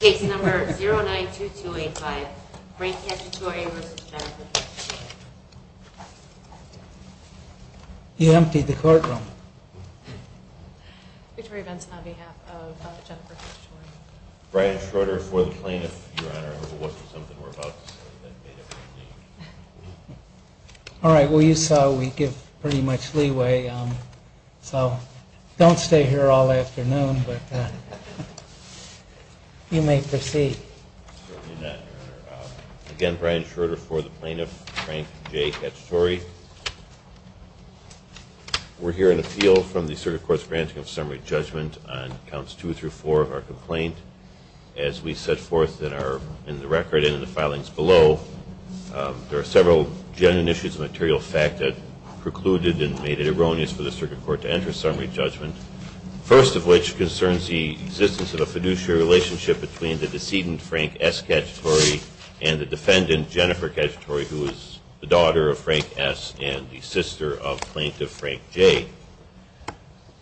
Case number 092285, Brian Cacciatore v. Jennifer Cacciatore. You emptied the courtroom. Victoria Benson on behalf of Jennifer Cacciatore. Brian Schroeder for the plaintiff, Your Honor. I hope it wasn't something we're about to say that made everybody think. All right. Well, you saw we give pretty much leeway. So don't stay here all afternoon, but you may proceed. Again, Brian Schroeder for the plaintiff, Frank J. Cacciatore. We're hearing a field from the Assertive Courts granting of summary judgment on counts two through four of our complaint. As we set forth in the record and in the filings below, there are several genuine issues of material fact that precluded and made it erroneous for the circuit court to enter summary judgment. First of which concerns the existence of a fiduciary relationship between the decedent, Frank S. Cacciatore, and the defendant, Jennifer Cacciatore, who is the daughter of Frank S. and the sister of plaintiff Frank J.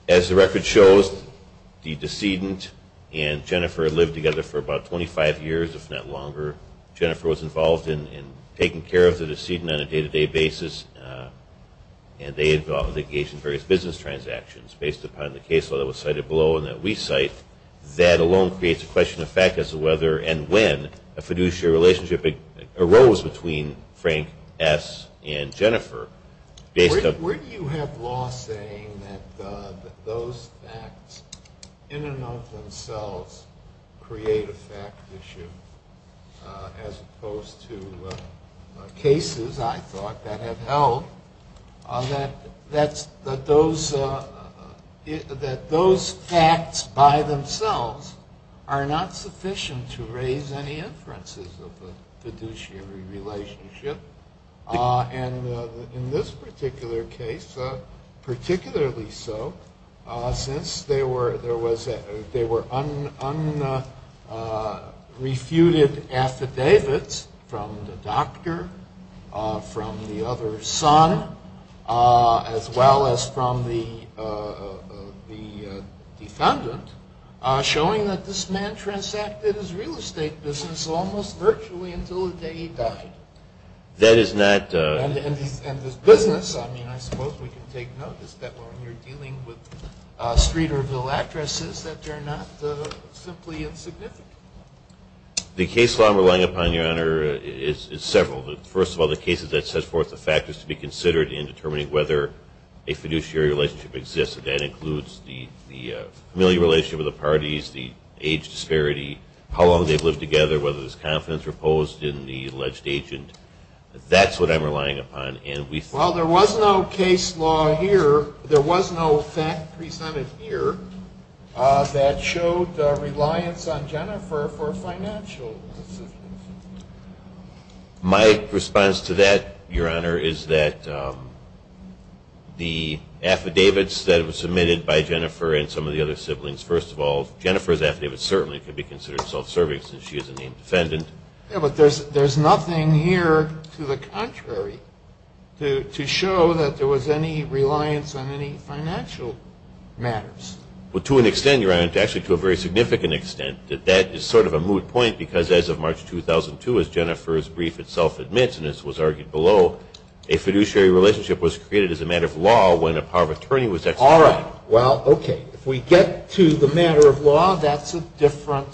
As the record shows, the decedent and Jennifer lived together for about 25 years, if not longer. Jennifer was involved in taking care of the decedent on a day-to-day basis, and they engaged in various business transactions based upon the case law that was cited below and that we cite. That alone creates a question of fact as to whether and when a fiduciary relationship arose between Frank S. and Jennifer. Where do you have law saying that those facts in and of themselves create a fact issue, as opposed to cases, I thought, that have held that those facts by themselves are not sufficient to raise any inferences of a fiduciary relationship? And in this particular case, particularly so, since there were unrefuted affidavits from the doctor, from the other son, as well as from the defendant, showing that this man transacted his real estate business almost virtually until the day he died. And his business, I mean, I suppose we can take notice that when you're dealing with street or villa addresses, that they're not simply insignificant. The case law I'm relying upon, Your Honor, is several. First of all, the cases that set forth the factors to be considered in determining whether a fiduciary relationship exists, and that includes the familial relationship of the parties, the age disparity, how long they've lived together, whether there's confidence reposed in the alleged agent. That's what I'm relying upon. Well, there was no case law here. There was no fact presented here that showed reliance on Jennifer for financial assistance. My response to that, Your Honor, is that the affidavits that were submitted by Jennifer and some of the other siblings, first of all, Jennifer's affidavits certainly could be considered self-serving since she is a named defendant. Yeah, but there's nothing here to the contrary to show that there was any reliance on any financial matters. Well, to an extent, Your Honor, actually to a very significant extent. That is sort of a moot point because as of March 2002, as Jennifer's brief itself admits, and this was argued below, a fiduciary relationship was created as a matter of law when a power of attorney was executed. All right. Well, okay. If we get to the matter of law, that's a different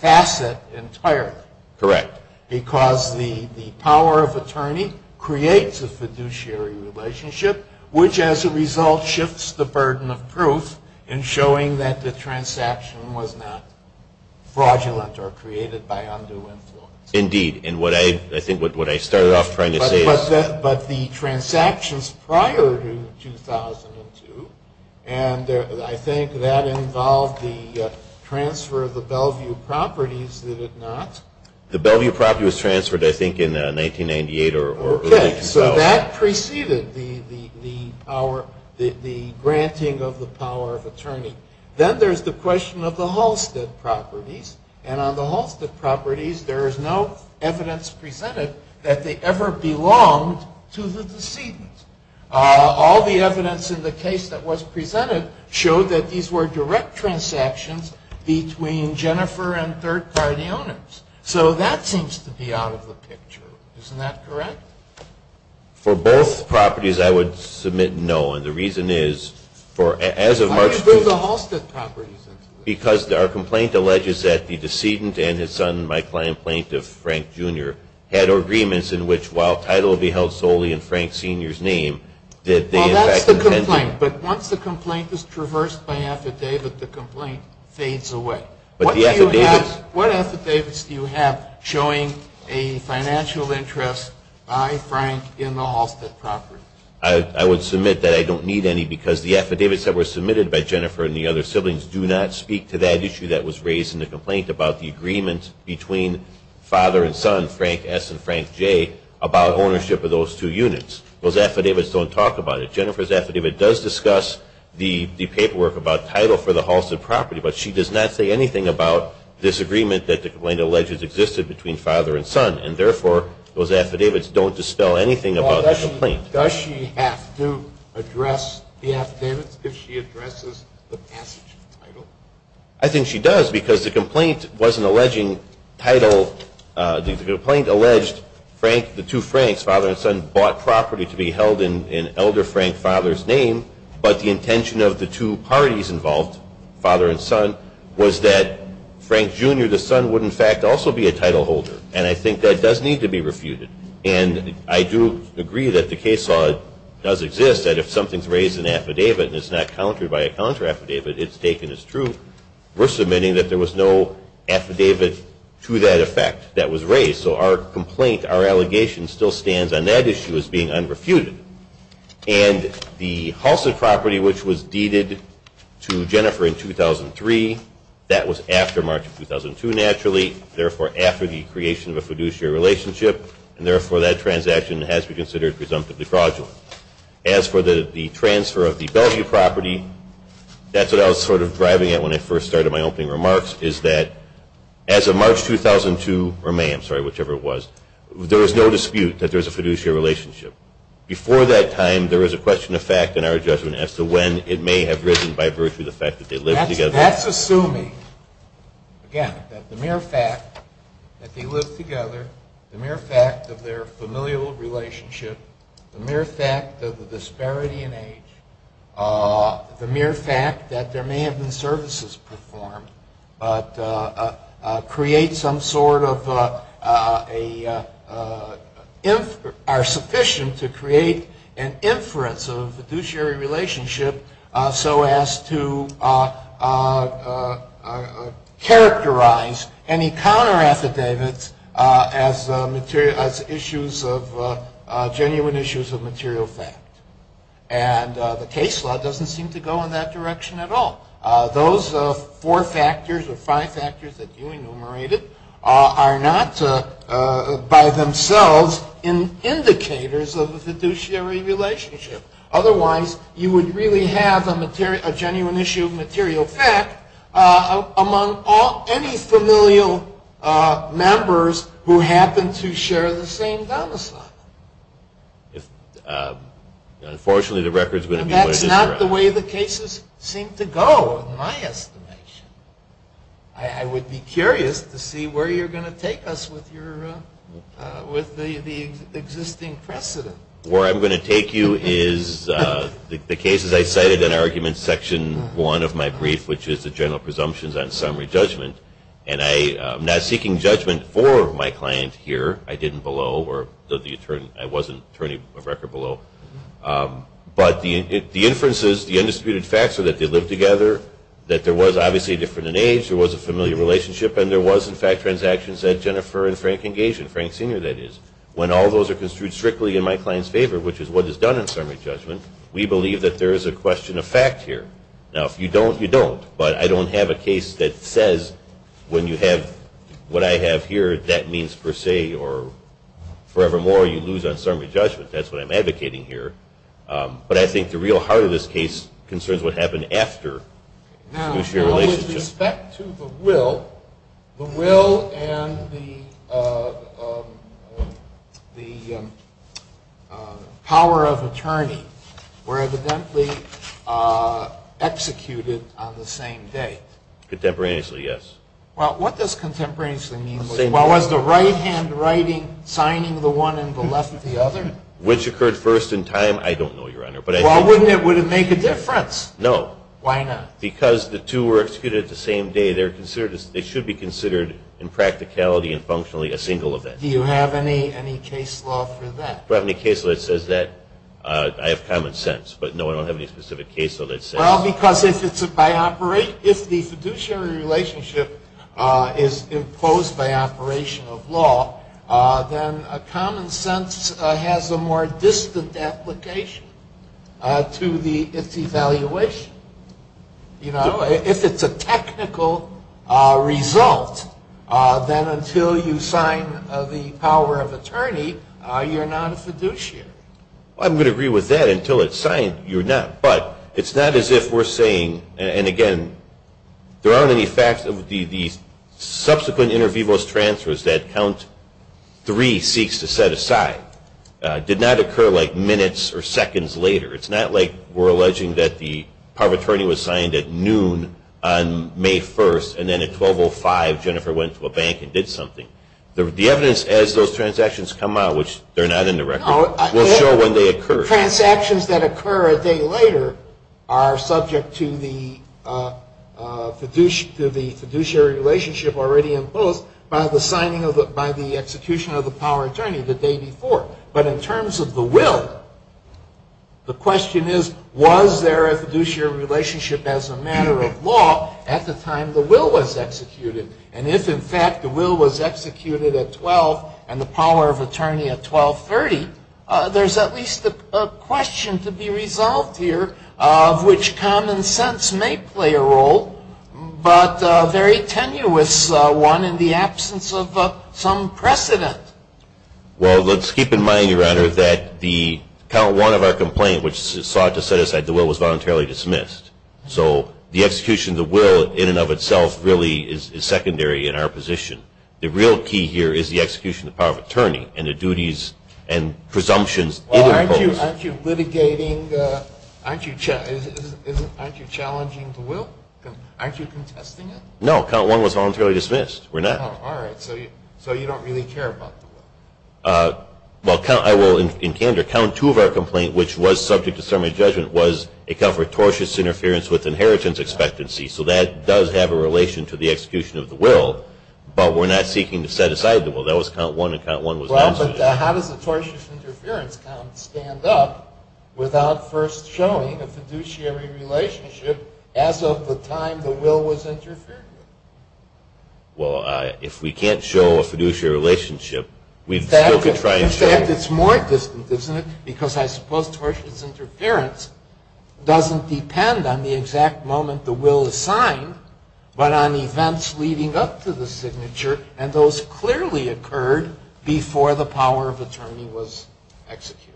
facet entirely. Correct. Because the power of attorney creates a fiduciary relationship, which as a result shifts the burden of proof in showing that the transaction was not fraudulent or created by undue influence. Indeed. And I think what I started off trying to say is – But the transactions prior to 2002, and I think that involved the transfer of the Bellevue properties, did it not? The Bellevue property was transferred, I think, in 1998 or early 2012. Okay. So that preceded the granting of the power of attorney. Then there's the question of the Halstead properties, and on the Halstead properties there is no evidence presented that they ever belonged to the decedent. All the evidence in the case that was presented showed that these were direct transactions between Jennifer and third-party owners. So that seems to be out of the picture. Isn't that correct? For both properties, I would submit no. And the reason is, as of March – Why would you throw the Halstead properties into this? Because our complaint alleges that the decedent and his son, my client Plaintiff Frank Jr., had agreements in which, while title will be held solely in Frank Sr.'s name, that they in fact intended – Well, that's the complaint. But once the complaint is traversed by affidavit, the complaint fades away. But the affidavits – What affidavits do you have showing a financial interest by Frank in the Halstead properties? I would submit that I don't need any, because the affidavits that were submitted by Jennifer and the other siblings do not speak to that issue that was raised in the complaint about the agreement between father and son, Frank S. and Frank J., about ownership of those two units. Those affidavits don't talk about it. Jennifer's affidavit does discuss the paperwork about title for the Halstead property, but she does not say anything about this agreement that the complaint alleges existed between father and son. And therefore, those affidavits don't dispel anything about the complaint. Does she have to address the affidavits if she addresses the passage of the title? I think she does, because the complaint wasn't alleging title. The complaint alleged the two Franks, father and son, bought property to be held in Elder Frank, father's name, but the intention of the two parties involved, father and son, was that Frank, Jr., the son, would in fact also be a title holder. And I think that does need to be refuted. And I do agree that the case law does exist, that if something's raised in affidavit and it's not countered by a counter affidavit, it's taken as true, we're submitting that there was no affidavit to that effect that was raised. So our complaint, our allegation, still stands on that issue as being unrefuted. And the Halstead property, which was deeded to Jennifer in 2003, that was after March of 2002 naturally, therefore after the creation of a fiduciary relationship, and therefore that transaction has to be considered presumptively fraudulent. As for the transfer of the Belgium property, that's what I was sort of driving at when I first started my opening remarks, is that as of March 2002, or May, I'm sorry, whichever it was, there was no dispute that there was a fiduciary relationship. Before that time, there was a question of fact in our judgment as to when it may have risen by virtue of the fact that they lived together. That's assuming, again, that the mere fact that they lived together, the mere fact of their familial relationship, the mere fact of the disparity in age, the mere fact that there may have been services performed, but are sufficient to create an inference of a fiduciary relationship so as to characterize any counter-affidavits as genuine issues of material fact. And the case law doesn't seem to go in that direction at all. Those four factors or five factors that you enumerated are not by themselves indicators of a fiduciary relationship. Otherwise, you would really have a genuine issue of material fact among any familial members who happen to share the same domicile. Unfortunately, the record's going to be where it is today. And that's not the way the cases seem to go, in my estimation. I would be curious to see where you're going to take us with the existing precedent. Where I'm going to take you is the cases I cited in argument section one of my brief, which is the general presumptions on summary judgment. And I'm not seeking judgment for my client here. I didn't below, or I wasn't attorney of record below. But the inferences, the undisputed facts are that they lived together, that there was obviously a difference in age, there was a familial relationship, and there was, in fact, transactions that Jennifer and Frank engaged in. When all those are construed strictly in my client's favor, which is what is done in summary judgment, we believe that there is a question of fact here. Now, if you don't, you don't. But I don't have a case that says when you have what I have here, that means per se or forevermore you lose on summary judgment. That's what I'm advocating here. But I think the real heart of this case concerns what happened after fiduciary relationship. With respect to the will, the will and the power of attorney were evidently executed on the same day. Contemporaneously, yes. Well, what does contemporaneously mean? Well, was the right-hand writing signing the one and the left the other? Which occurred first in time, I don't know, Your Honor. Well, wouldn't it make a difference? No. Why not? Because the two were executed the same day, they should be considered in practicality and functionally a single event. Do you have any case law for that? Do I have any case law that says that? I have common sense, but no, I don't have any specific case law that says that. Well, because if the fiduciary relationship is imposed by operation of law, then common sense has a more distant application to its evaluation. If it's a technical result, then until you sign the power of attorney, you're not a fiduciary. I'm going to agree with that. Until it's signed, you're not. But it's not as if we're saying, and again, there aren't any facts of the subsequent inter vivos transfers that count three seeks to set aside did not occur like minutes or seconds later. It's not like we're alleging that the power of attorney was signed at noon on May 1st, and then at 12.05, Jennifer went to a bank and did something. The evidence as those transactions come out, which they're not in the record, will show when they occur. Transactions that occur a day later are subject to the fiduciary relationship already imposed by the execution of the power of attorney the day before. But in terms of the will, the question is, was there a fiduciary relationship as a matter of law at the time the will was executed? And if, in fact, the will was executed at 12.00 and the power of attorney at 12.30, there's at least a question to be resolved here of which common sense may play a role, but a very tenuous one in the absence of some precedent. Well, let's keep in mind, Your Honor, that the count one of our complaint, which sought to set aside the will, was voluntarily dismissed. So the execution of the will in and of itself really is secondary in our position. The real key here is the execution of the power of attorney and the duties and presumptions. Well, aren't you litigating? Aren't you challenging the will? Aren't you contesting it? No, count one was voluntarily dismissed. We're not. All right. So you don't really care about the will. Well, I will, in candor, count two of our complaint, which was subject to summary judgment, was a count for tortious interference with inheritance expectancy. So that does have a relation to the execution of the will. But we're not seeking to set aside the will. That was count one, and count one was voluntary. Well, but how does a tortious interference count stand up without first showing a fiduciary relationship as of the time the will was interfered with? Well, if we can't show a fiduciary relationship, we still could try and show it. In fact, it's more distant, isn't it? Because I suppose tortious interference doesn't depend on the exact moment the will is signed, but on events leading up to the signature, and those clearly occurred before the power of attorney was executed.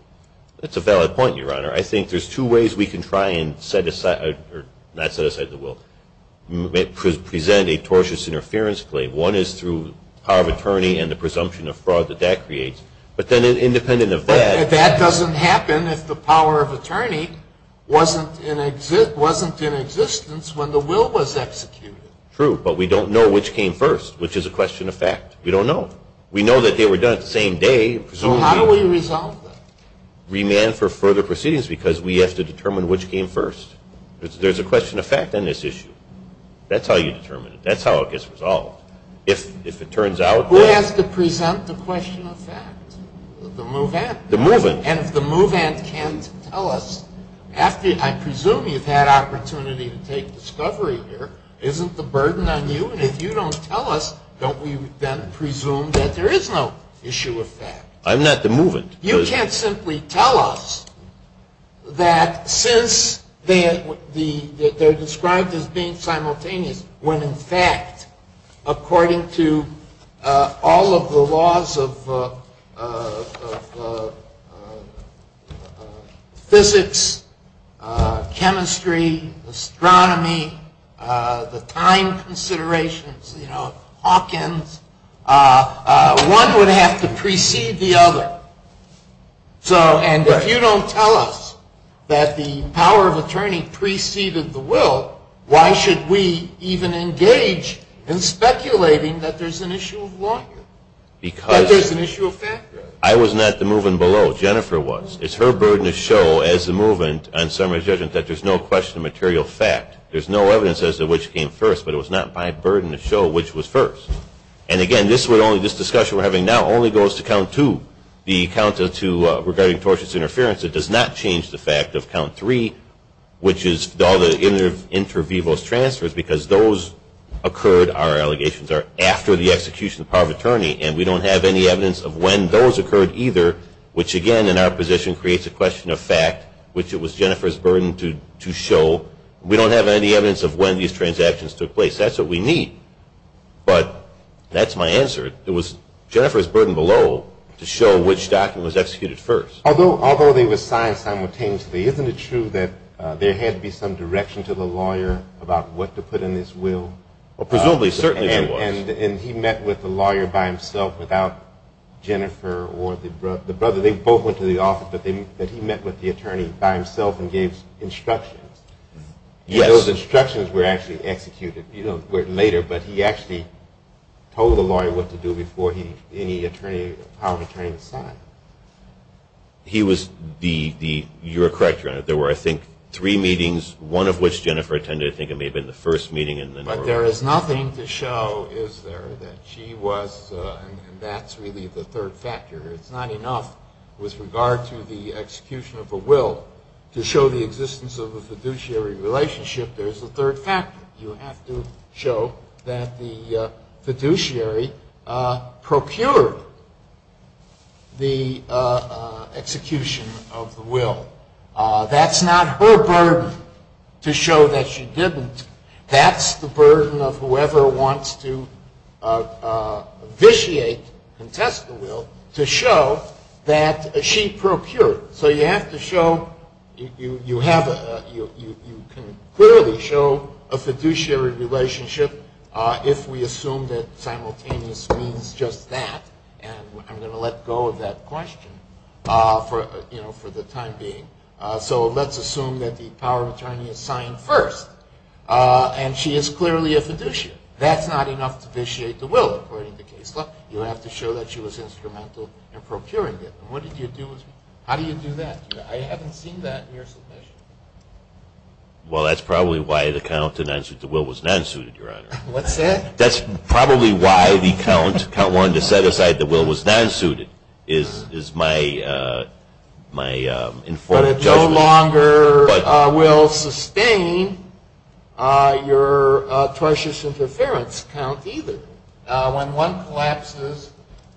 That's a valid point, Your Honor. I think there's two ways we can try and set aside or not set aside the will. Present a tortious interference claim. One is through power of attorney and the presumption of fraud that that creates. But then independent of that. That doesn't happen if the power of attorney wasn't in existence when the will was executed. True, but we don't know which came first, which is a question of fact. We don't know. We know that they were done the same day, presumably. So how do we resolve that? Remand for further proceedings because we have to determine which came first. There's a question of fact on this issue. That's how you determine it. That's how it gets resolved. If it turns out that... The move-in. The move-in. And if the move-in can't tell us... I presume you've had opportunity to take discovery here. Isn't the burden on you? And if you don't tell us, don't we then presume that there is no issue of fact? I'm not the move-in. You can't simply tell us that since they're described as being simultaneous when, in fact, according to all of the laws of physics, chemistry, astronomy, the time considerations, Hawkins, one would have to precede the other. And if you don't tell us that the power of attorney preceded the will, why should we even engage in speculating that there's an issue of law here? Because... That there's an issue of fact. I was not the move-in below. Jennifer was. It's her burden to show as the move-in on summary judgment that there's no question of material fact. There's no evidence as to which came first, but it was not my burden to show which was first. And, again, this discussion we're having now only goes to count two, the count of two regarding tortious interference. It does not change the fact of count three, which is all the inter vivos transfers, because those occurred, our allegations are, after the execution of the power of attorney, and we don't have any evidence of when those occurred either, which, again, in our position, creates a question of fact, which it was Jennifer's burden to show. We don't have any evidence of when these transactions took place. That's what we need. But that's my answer. It was Jennifer's burden below to show which document was executed first. Although they were signed simultaneously, isn't it true that there had to be some direction to the lawyer about what to put in this will? Presumably, certainly there was. And he met with the lawyer by himself without Jennifer or the brother. They both went to the office, but he met with the attorney by himself and gave instructions. Yes. Those instructions were actually executed later, but he actually told the lawyer what to do before any power of attorney was signed. You're correct, Your Honor. There were, I think, three meetings, one of which Jennifer attended. I think it may have been the first meeting. But there is nothing to show, is there, that she was, and that's really the third factor. It's not enough with regard to the execution of a will to show the existence of a fiduciary relationship. There's a third factor. You have to show that the fiduciary procured the execution of the will. That's not her burden to show that she didn't. That's the burden of whoever wants to vitiate, contest the will, to show that she procured. So you have to show, you can clearly show a fiduciary relationship if we assume that simultaneous means just that. And I'm going to let go of that question for the time being. So let's assume that the power of attorney is signed first, and she is clearly a fiduciary. That's not enough to vitiate the will, according to Kessler. You have to show that she was instrumental in procuring it. How do you do that? I haven't seen that in your submission. Well, that's probably why the count to non-suit the will was non-suited, Your Honor. What's that? That's probably why the count, count one, to set aside the will was non-suited is my informed judgment. But it no longer will sustain your tortious interference count either. When one collapses,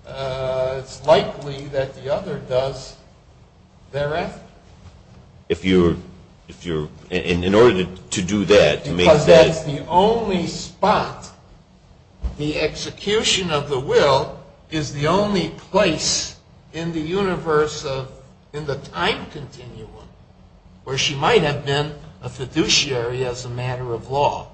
it's likely that the other does thereafter. If you're, in order to do that, to make that. Because that's the only spot. The execution of the will is the only place in the universe of, in the time continuum, where she might have been a fiduciary as a matter of law.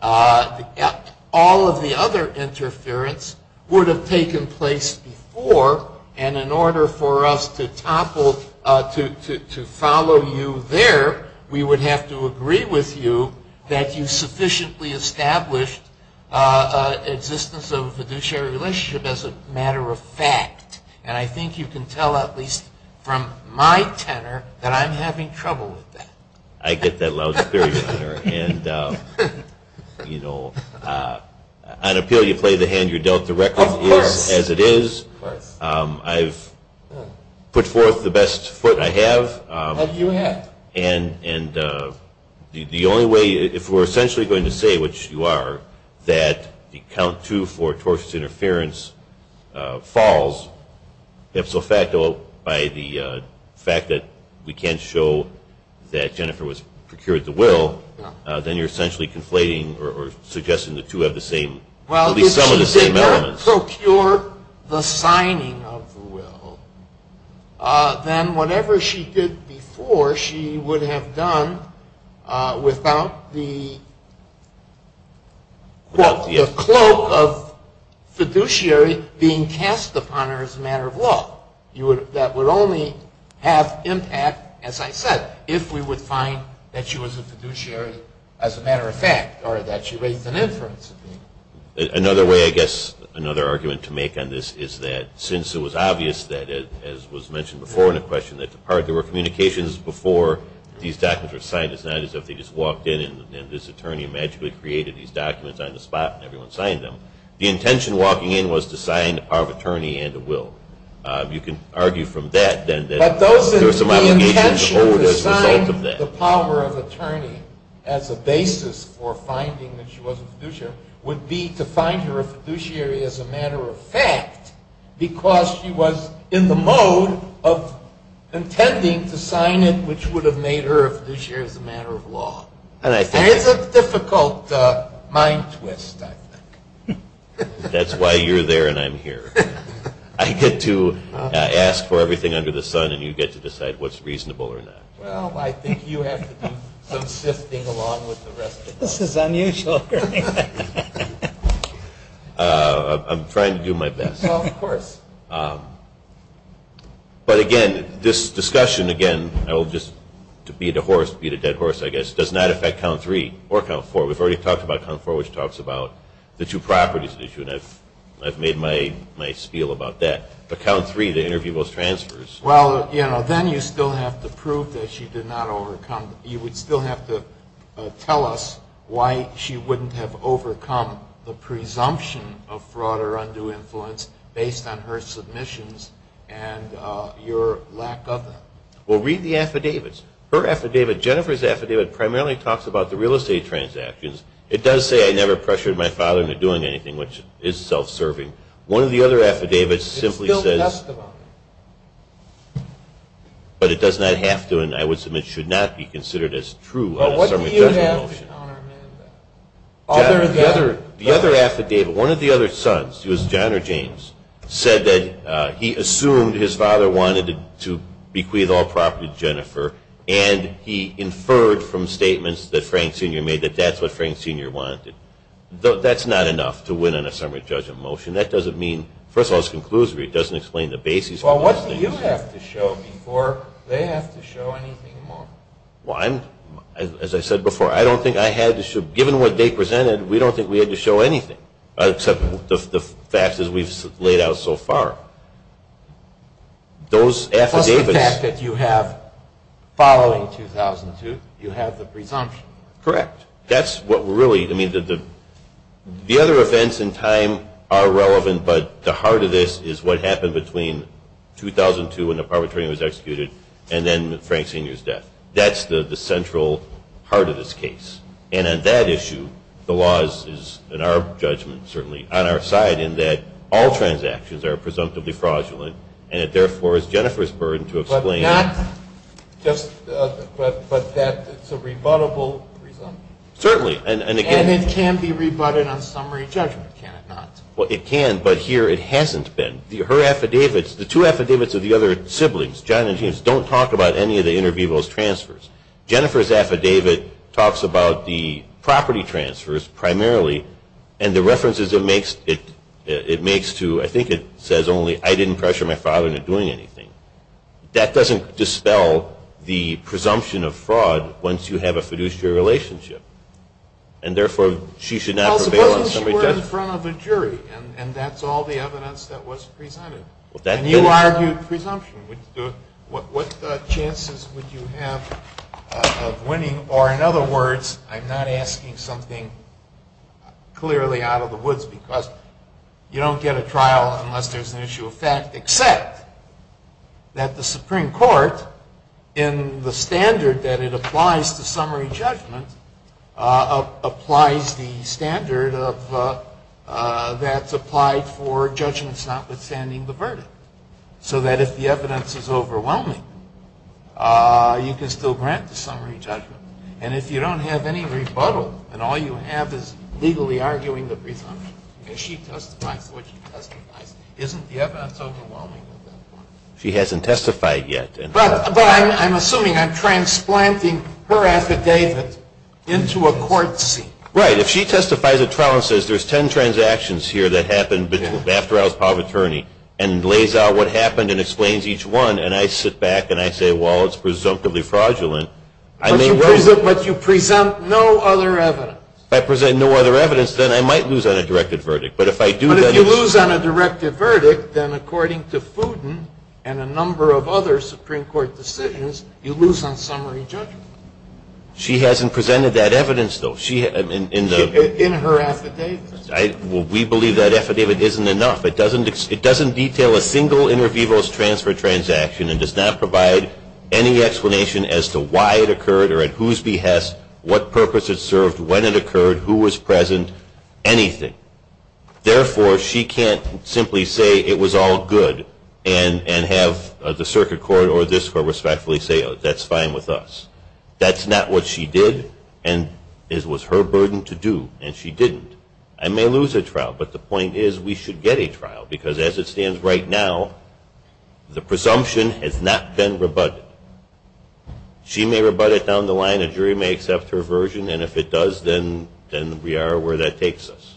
All of the other interference would have taken place before, and in order for us to topple, to follow you there, we would have to agree with you that you sufficiently established existence of a fiduciary relationship as a matter of fact. And I think you can tell, at least from my tenor, that I'm having trouble with that. I get that loud and clear, Your Honor. And, you know, on appeal, you play the hand you're dealt. Of course. The record is as it is. Of course. I've put forth the best foot I have. And you have. And the only way, if we're essentially going to say, which you are, that the count two for tortious interference falls, ipso facto by the fact that we can't show that Jennifer was procured the will, then you're essentially conflating or suggesting the two have the same, at least some of the same elements. Well, if she did not procure the signing of the will, then whatever she did before she would have done without the cloak of fiduciary being cast upon her as a matter of law. That would only have impact, as I said, if we would find that she was a fiduciary as a matter of fact or that she raised an inference. Another way, I guess, another argument to make on this is that since it was obvious that, as was mentioned before in the question, that there were communications before these documents were signed, it's not as if they just walked in and this attorney magically created these documents on the spot and everyone signed them. The intention walking in was to sign the power of attorney and the will. You can argue from that that there were some obligations as a result of that. But the intention to sign the power of attorney as a basis for finding that she was a fiduciary would be to find her a fiduciary as a matter of fact because she was in the mode of intending to sign it, which would have made her a fiduciary as a matter of law. It's a difficult mind twist, I think. That's why you're there and I'm here. I get to ask for everything under the sun and you get to decide what's reasonable or not. Well, I think you have to do some sifting along with the rest of us. This is unusual. I'm trying to do my best. Of course. But, again, this discussion, again, to beat a horse, beat a dead horse, I guess, does not affect count three or count four. We've already talked about count four, which talks about the two properties issue, and I've made my spiel about that. But count three, the interview goes transfers. Well, then you still have to prove that she did not overcome. You would still have to tell us why she wouldn't have overcome the presumption of fraud or undue influence based on her submissions and your lack of them. Well, read the affidavits. Her affidavit, Jennifer's affidavit, primarily talks about the real estate transactions. It does say, I never pressured my father into doing anything, which is self-serving. One of the other affidavits simply says, but it does not have to and I would submit should not be considered as true. What do you have, Your Honor? The other affidavit, one of the other sons, he was John or James, said that he assumed his father wanted to bequeath all property to Jennifer and he inferred from statements that Frank Sr. made that that's what Frank Sr. wanted. That's not enough to win on a summary judgment motion. That doesn't mean, first of all, it's conclusory. It doesn't explain the basis for those things. Well, what do you have to show before they have to show anything more? Well, as I said before, I don't think I had to show, given what they presented, we don't think we had to show anything, except the facts as we've laid out so far. That's the fact that you have, following 2002, you have the presumption. That's what really, I mean, the other events in time are relevant, but the heart of this is what happened between 2002 when the perpetrator was executed and then Frank Sr.'s death. That's the central heart of this case. And on that issue, the law is, in our judgment certainly, on our side in that all transactions are presumptively fraudulent and it therefore is Jennifer's burden to explain. But that's a rebuttable presumption. Certainly. And it can be rebutted on summary judgment, can it not? Well, it can, but here it hasn't been. Her affidavits, the two affidavits of the other siblings, John and James, don't talk about any of the inter vivos transfers. Jennifer's affidavit talks about the property transfers primarily and the references it makes to, I think it says only, I didn't pressure my father into doing anything. That doesn't dispel the presumption of fraud once you have a fiduciary relationship. And therefore, she should not prevail on summary judgment. Well, suppose she were in front of a jury and that's all the evidence that was presented. And you argued presumption. What chances would you have of winning? Or, in other words, I'm not asking something clearly out of the woods because you don't get a trial unless there's an issue of fact, except that the Supreme Court, in the standard that it applies to summary judgment, applies the standard that's applied for judgments notwithstanding the verdict. So that if the evidence is overwhelming, you can still grant the summary judgment. And if you don't have any rebuttal, then all you have is legally arguing the presumption. If she testifies to what she testifies, isn't the evidence overwhelming at that point? She hasn't testified yet. But I'm assuming I'm transplanting her affidavit into a court seat. Right. If she testifies at trial and says there's ten transactions here that happened after I was part of the attorney, and lays out what happened and explains each one, and I sit back and I say, well, it's presumptively fraudulent. But you present no other evidence. If I present no other evidence, then I might lose on a directed verdict. But if you lose on a directed verdict, then according to Fudin and a number of other Supreme Court decisions, you lose on summary judgment. She hasn't presented that evidence, though. In her affidavit. We believe that affidavit isn't enough. It doesn't detail a single inter vivos transfer transaction and does not provide any explanation as to why it occurred or at whose behest, what purpose it served, when it occurred, who was present, anything. Therefore, she can't simply say it was all good and have the circuit court or this court respectfully say that's fine with us. That's not what she did, and it was her burden to do, and she didn't. I may lose a trial, but the point is we should get a trial, because as it stands right now, the presumption has not been rebutted. She may rebut it down the line, a jury may accept her version, and if it does, then we are where that takes us.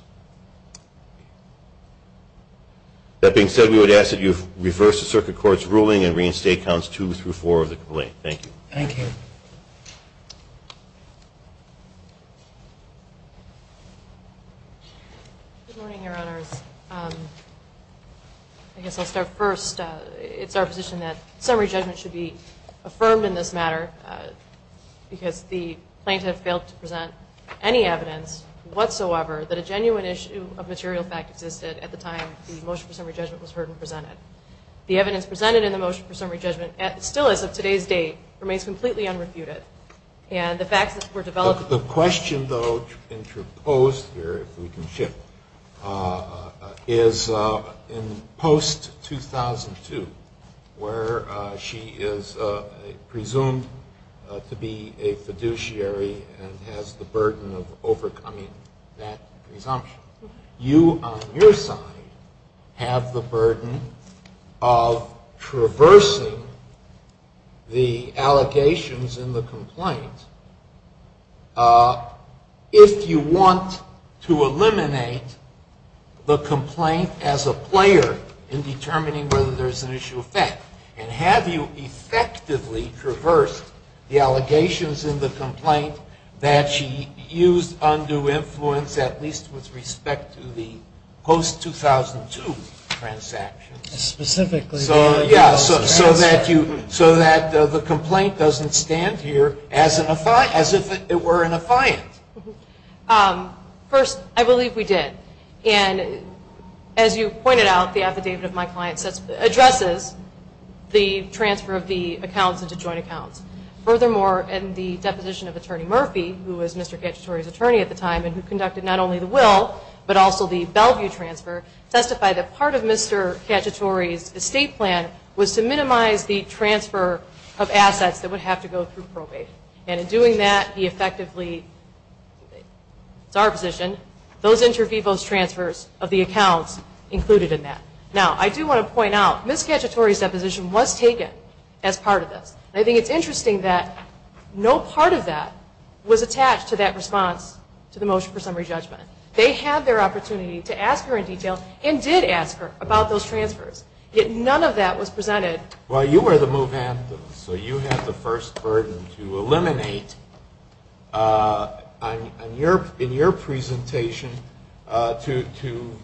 That being said, we would ask that you reverse the circuit court's ruling and reinstate counts two through four of the complaint. Thank you. Thank you. Good morning, Your Honors. I guess I'll start first. It's our position that summary judgment should be affirmed in this matter, because the plaintiff failed to present any evidence whatsoever that a genuine issue of material fact existed at the time the motion for summary judgment was heard and presented. The evidence presented in the motion for summary judgment, still as of today's date, remains completely unrefuted, and the facts that were developed. The question, though, interposed here, if we can shift, is in post-2002, where she is presumed to be a fiduciary and has the burden of overcoming that presumption. You, on your side, have the burden of traversing the allegations in the complaint. If you want to eliminate the complaint as a player in determining whether there's an issue of fact, and have you effectively traversed the allegations in the complaint that she used undue influence, at least with respect to the post-2002 transactions, so that the complaint doesn't stand here as if it were an affiant? First, I believe we did. As you pointed out, the affidavit of my client addresses the transfer of the accounts into joint accounts. Furthermore, in the deposition of Attorney Murphy, who was Mr. Cacciatore's attorney at the time and who conducted not only the will, but also the Bellevue transfer, testified that part of Mr. Cacciatore's estate plan was to minimize the transfer of assets that would have to go through probate. And in doing that, he effectively, it's our position, those inter vivos transfers of the accounts included in that. Now, I do want to point out, Ms. Cacciatore's deposition was taken as part of this. I think it's interesting that no part of that was attached to that response to the motion for summary judgment. They had their opportunity to ask her in detail and did ask her about those transfers. Yet none of that was presented. Well, you were the move-in, so you had the first burden to eliminate in your presentation to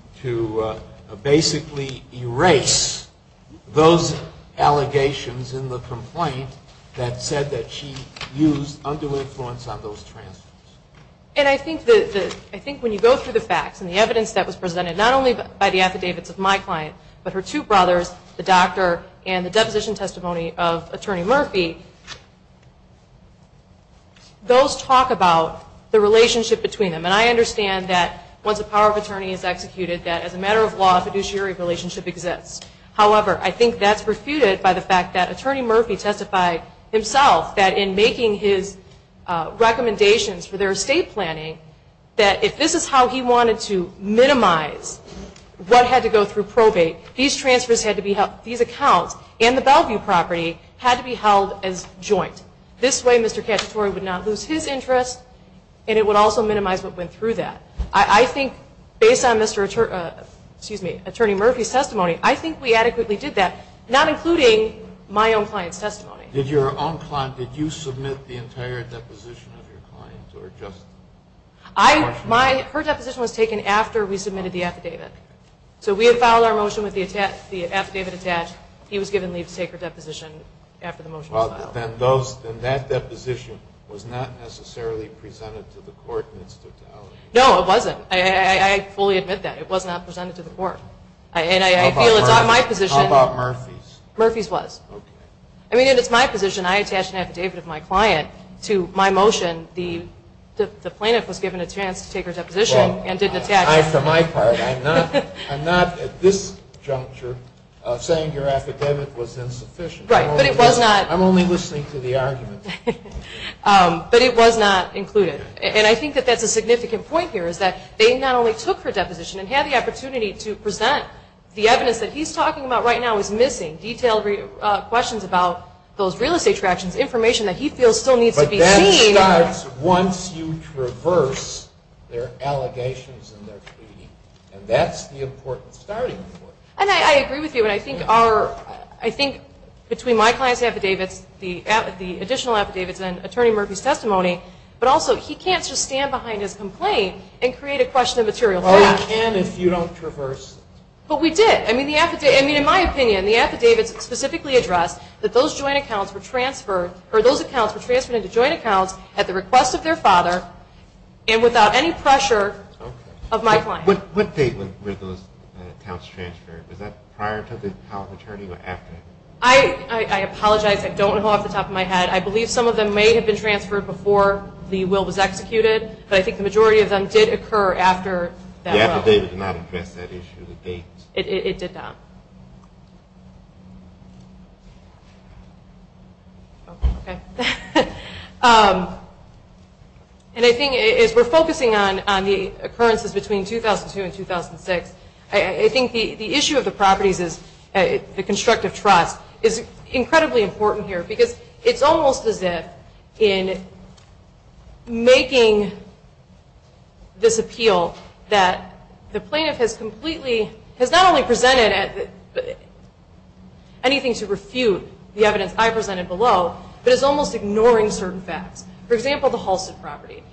basically erase those allegations in the complaint that said that she used undue influence on those transfers. And I think when you go through the facts and the evidence that was presented, not only by the affidavits of my client, but her two brothers, the doctor, and the deposition testimony of Attorney Murphy, those talk about the relationship between them. And I understand that once a power of attorney is executed, that as a matter of law, a fiduciary relationship exists. However, I think that's refuted by the fact that Attorney Murphy testified himself that in making his recommendations for their estate planning, that if this is how he wanted to minimize what had to go through probate, these accounts and the Bellevue property had to be held as joint. This way, Mr. Cacciatore would not lose his interest, and it would also minimize what went through that. I think based on Attorney Murphy's testimony, I think we adequately did that, not including my own client's testimony. Did your own client, did you submit the entire deposition of your client? Her deposition was taken after we submitted the affidavit. So we had filed our motion with the affidavit attached. He was given leave to take her deposition after the motion was filed. Then that deposition was not necessarily presented to the court in its totality? No, it wasn't. I fully admit that. It was not presented to the court. And I feel it's not my position. How about Murphy's? Murphy's was. Okay. I mean, it's my position. I attached an affidavit of my client to my motion. The plaintiff was given a chance to take her deposition and didn't attach it. Well, for my part, I'm not at this juncture saying your affidavit was insufficient. Right, but it was not. I'm only listening to the argument. But it was not included. And I think that that's a significant point here is that they not only took her deposition and had the opportunity to present the evidence that he's talking about right now is missing, detailed questions about those real estate tractions, information that he feels still needs to be seen. But that starts once you traverse their allegations and their pleading. And that's the important starting point. And I agree with you. I think between my client's affidavits, the additional affidavits, and Attorney Murphy's testimony, but also he can't just stand behind his complaint and create a question of material facts. Well, he can if you don't traverse. But we did. I mean, in my opinion, the affidavits specifically address that those joint accounts were transferred or those accounts were transferred into joint accounts at the request of their father and without any pressure of my client. What date were those accounts transferred? Was that prior to the power of attorney or after? I apologize. I don't know off the top of my head. I believe some of them may have been transferred before the will was executed. But I think the majority of them did occur after that. The affidavit did not address that issue, the date. It did not. Okay. And I think as we're focusing on the occurrences between 2002 and 2006, I think the issue of the properties is the constructive trust is incredibly important here because it's almost as if in making this appeal that the plaintiff has completely, has not only presented anything to refute the evidence I presented below, but is almost ignoring certain facts. For example, the Halstead property.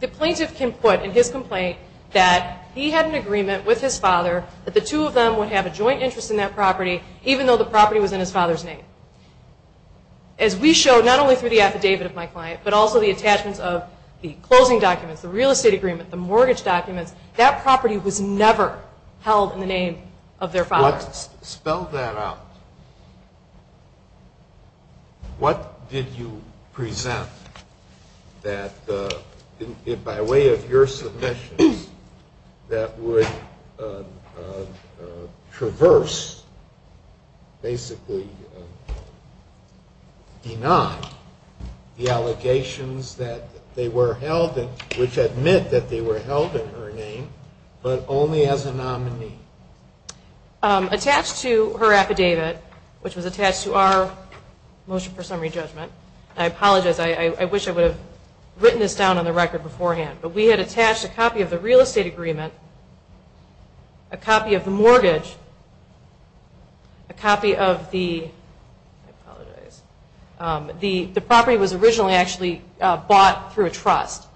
The plaintiff can put in his complaint that he had an agreement with his father that the two of them would have a joint interest in that property, even though the property was in his father's name. As we show not only through the affidavit of my client, but also the attachments of the closing documents, the real estate agreement, the mortgage documents, that property was never held in the name of their father. Spell that out. What did you present that, by way of your submissions, that would traverse basically deny the allegations that they were held in, which admit that they were held in her name, but only as a nominee? Attached to her affidavit, which was attached to our motion for summary judgment, and I apologize, I wish I would have written this down on the record beforehand, but we had attached a copy of the real estate agreement, a copy of the mortgage, a copy of the, I apologize, the property was originally actually bought through a trust.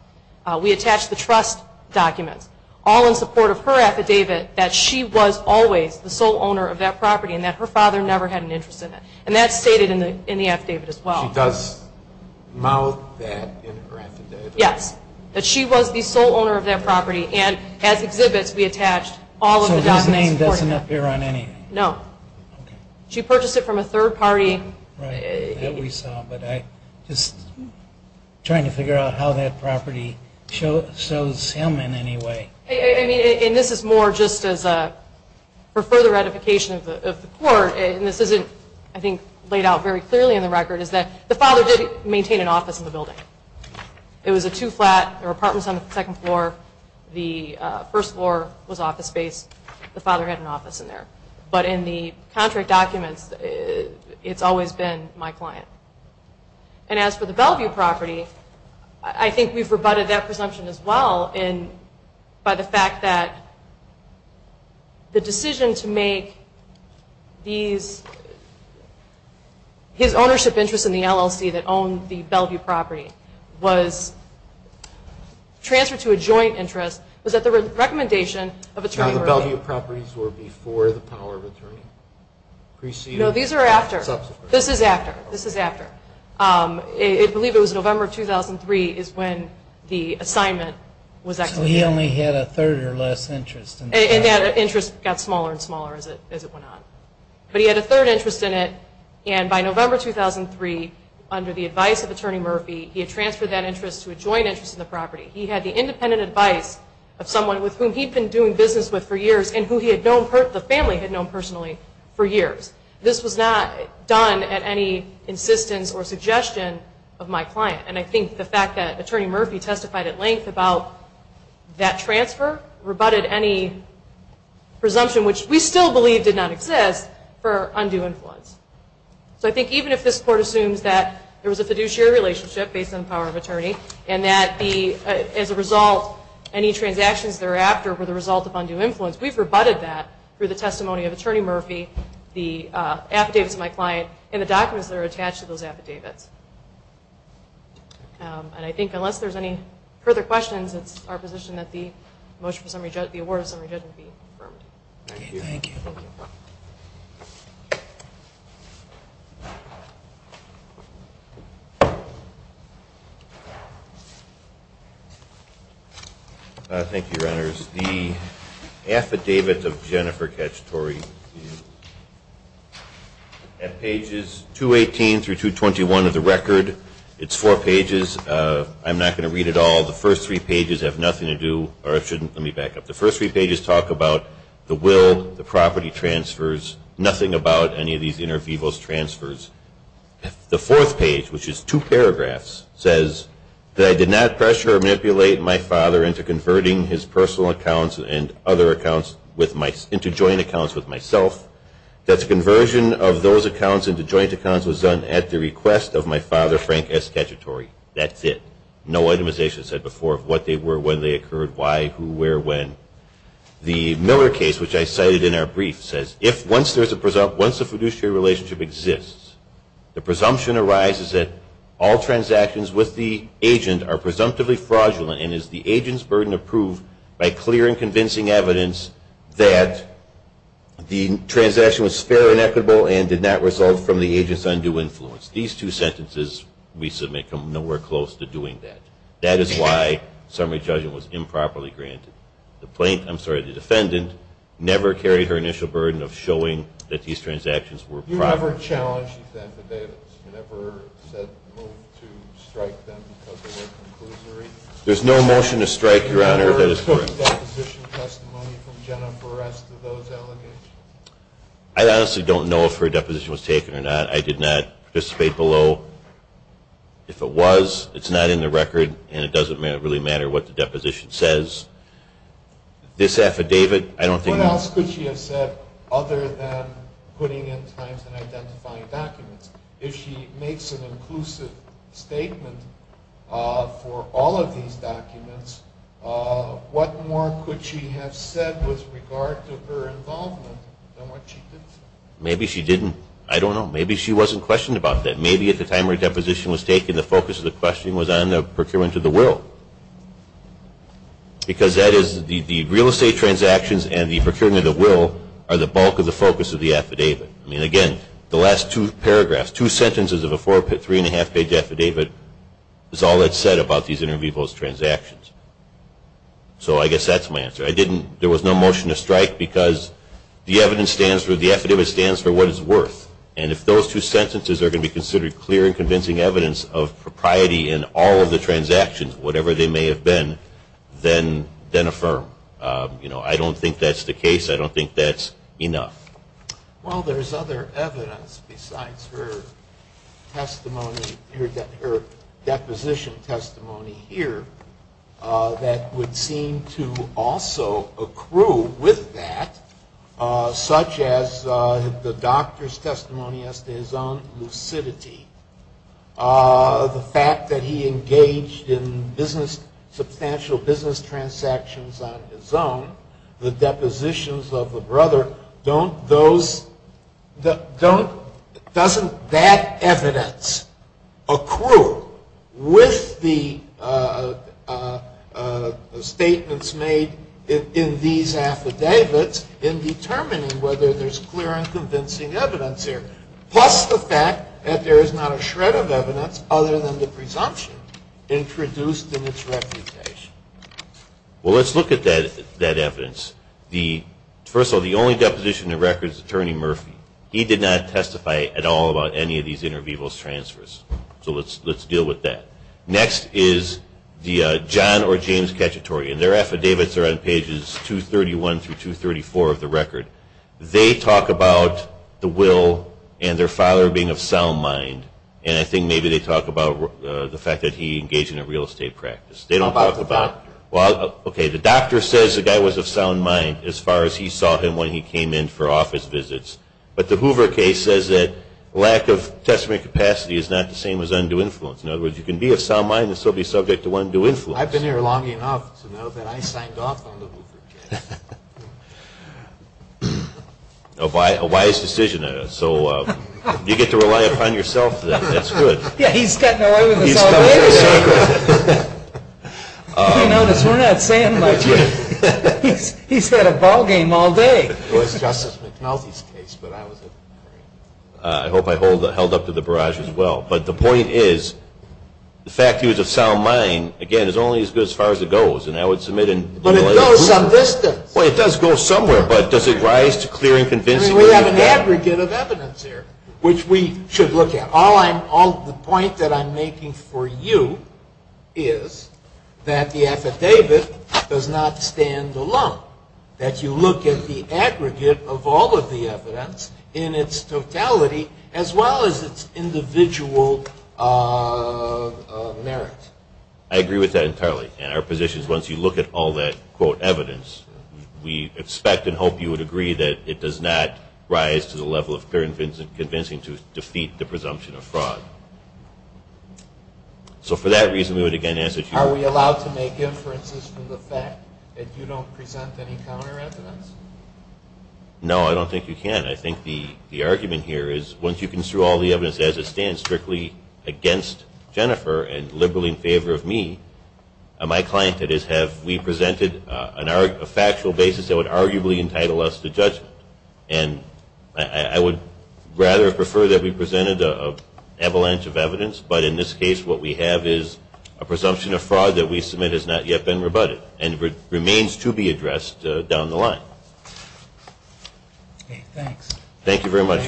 We attached the trust documents, all in support of her affidavit, that she was always the sole owner of that property, and that her father never had an interest in it. And that's stated in the affidavit as well. She does mouth that in her affidavit? Yes, that she was the sole owner of that property, and as exhibits we attached all of the documents. So his name doesn't appear on any? No. Okay. She purchased it from a third party. Right, that we saw, but I'm just trying to figure out how that property shows him in any way. I mean, and this is more just as a, for further ratification of the court, and this isn't, I think, laid out very clearly in the record, is that the father did maintain an office in the building. It was a two flat, there were apartments on the second floor, the first floor was office space. The father had an office in there. But in the contract documents, it's always been my client. And as for the Bellevue property, I think we've rebutted that presumption as well by the fact that the decision to make his ownership interest in the LLC that owned the Bellevue property was transferred to a joint interest. It was at the recommendation of Attorney Murphy. So the Bellevue properties were before the power of attorney? Preceding? No, these are after. Subsequent? This is after. This is after. I believe it was November of 2003 is when the assignment was executed. So he only had a third or less interest. And that interest got smaller and smaller as it went on. But he had a third interest in it, and by November 2003, under the advice of Attorney Murphy, he had transferred that interest to a joint interest in the property. He had the independent advice of someone with whom he'd been doing business with for years and who the family had known personally for years. This was not done at any insistence or suggestion of my client. And I think the fact that Attorney Murphy testified at length about that transfer rebutted any presumption, which we still believe did not exist, for undue influence. So I think even if this Court assumes that there was a fiduciary relationship based on the power of attorney and that, as a result, any transactions thereafter were the result of undue influence, we've rebutted that through the testimony of Attorney Murphy, the affidavits of my client, and the documents that are attached to those affidavits. And I think unless there's any further questions, it's our position that the motion for summary judgment, the award of summary judgment be confirmed. Thank you. Thank you. Thank you, Your Honors. The affidavits of Jennifer Cacciatore at pages 218 through 221 of the record, it's four pages. I'm not going to read it all. The first three pages have nothing to do or shouldn't. Let me back up. The first three pages talk about the will, the property transfers, nothing about any of these inter vivos transfers. The fourth page, which is two paragraphs, says that I did not pressure or manipulate my father into converting his personal accounts and other accounts into joint accounts with myself. That the conversion of those accounts into joint accounts was done at the request of my father, Frank S. Cacciatore. That's it. No itemization said before of what they were, when they occurred, why, who, where, when. The Miller case, which I cited in our brief, says once a fiduciary relationship exists, the presumption arises that all transactions with the agent are presumptively fraudulent and is the agent's burden approved by clear and convincing evidence that the transaction was fair and equitable and did not result from the agent's undue influence. These two sentences we submit come nowhere close to doing that. That is why summary judgment was improperly granted. The plaintiff, I'm sorry, the defendant never carried her initial burden of showing that these transactions were proper. You never challenged the defendants? You never said to strike them because they were conclusory? There's no motion to strike, Your Honor. You never took deposition testimony from Jennifer S. to those allegations? I honestly don't know if her deposition was taken or not. I did not participate below. If it was, it's not in the record and it doesn't really matter what the deposition says. This affidavit, I don't think. What else could she have said other than putting in times and identifying documents? If she makes an inclusive statement for all of these documents, what more could she have said with regard to her involvement than what she did say? Maybe she didn't. I don't know. Maybe she wasn't questioned about that. Maybe at the time her deposition was taken, the focus of the questioning was on the procurement of the will. Because that is the real estate transactions and the procurement of the will are the bulk of the focus of the affidavit. I mean, again, the last two paragraphs, two sentences of a three-and-a-half-page affidavit, is all it said about these inter vivos transactions. So I guess that's my answer. There was no motion to strike because the evidence stands for, the affidavit stands for what it's worth. And if those two sentences are going to be considered clear and convincing evidence of propriety in all of the transactions, whatever they may have been, then affirm. I don't think that's the case. I don't think that's enough. Well, there's other evidence besides her testimony, her deposition testimony here, that would seem to also accrue with that, such as the doctor's testimony as to his own lucidity, the fact that he engaged in substantial business transactions on his own, the depositions of the brother, doesn't that evidence accrue with the statements made in these affidavits in determining whether there's clear and convincing evidence here, plus the fact that there is not a shred of evidence other than the presumption introduced in its reputation? Well, let's look at that evidence. First of all, the only deposition in the record is Attorney Murphy. He did not testify at all about any of these inter vivos transfers. So let's deal with that. Next is the John or James Cacciatore, and their affidavits are on pages 231 through 234 of the record. They talk about the will and their father being of sound mind, and I think maybe they talk about the fact that he engaged in a real estate practice. How about the doctor? Okay, the doctor says the guy was of sound mind as far as he saw him when he came in for office visits, but the Hoover case says that lack of testimony capacity is not the same as undue influence. In other words, you can be of sound mind and still be subject to undue influence. I've been here long enough to know that I signed off on the Hoover case. A wise decision. So you get to rely upon yourself then. That's good. Yeah, he's gotten away with this all day. You notice we're not saying much here. He's had a ball game all day. It was Justice McNulty's case, but I was at the hearing. I hope I held up to the barrage as well. But the point is the fact that he was of sound mind, again, is only as good as far as it goes. And I would submit in doing what I did. But it goes some distance. Well, it does go somewhere, but does it rise to clear and convincing evidence? I mean, we have an aggregate of evidence here, which we should look at. The point that I'm making for you is that the affidavit does not stand alone, that you look at the aggregate of all of the evidence in its totality as well as its individual merit. I agree with that entirely. And our position is once you look at all that, quote, evidence, we expect and hope you would agree that it does not rise to the level of clear and convincing to defeat the presumption of fraud. So for that reason, we would, again, answer to you. Are we allowed to make inferences from the fact that you don't present any counter evidence? No, I don't think you can. I think the argument here is once you construe all the evidence as it stands strictly against Jennifer and liberally in favor of me, my client, that is, have we presented a factual basis that would arguably entitle us to judgment? And I would rather prefer that we presented an avalanche of evidence, but in this case what we have is a presumption of fraud that we submit has not yet been rebutted and remains to be addressed down the line. Okay, thanks. Thank you very much.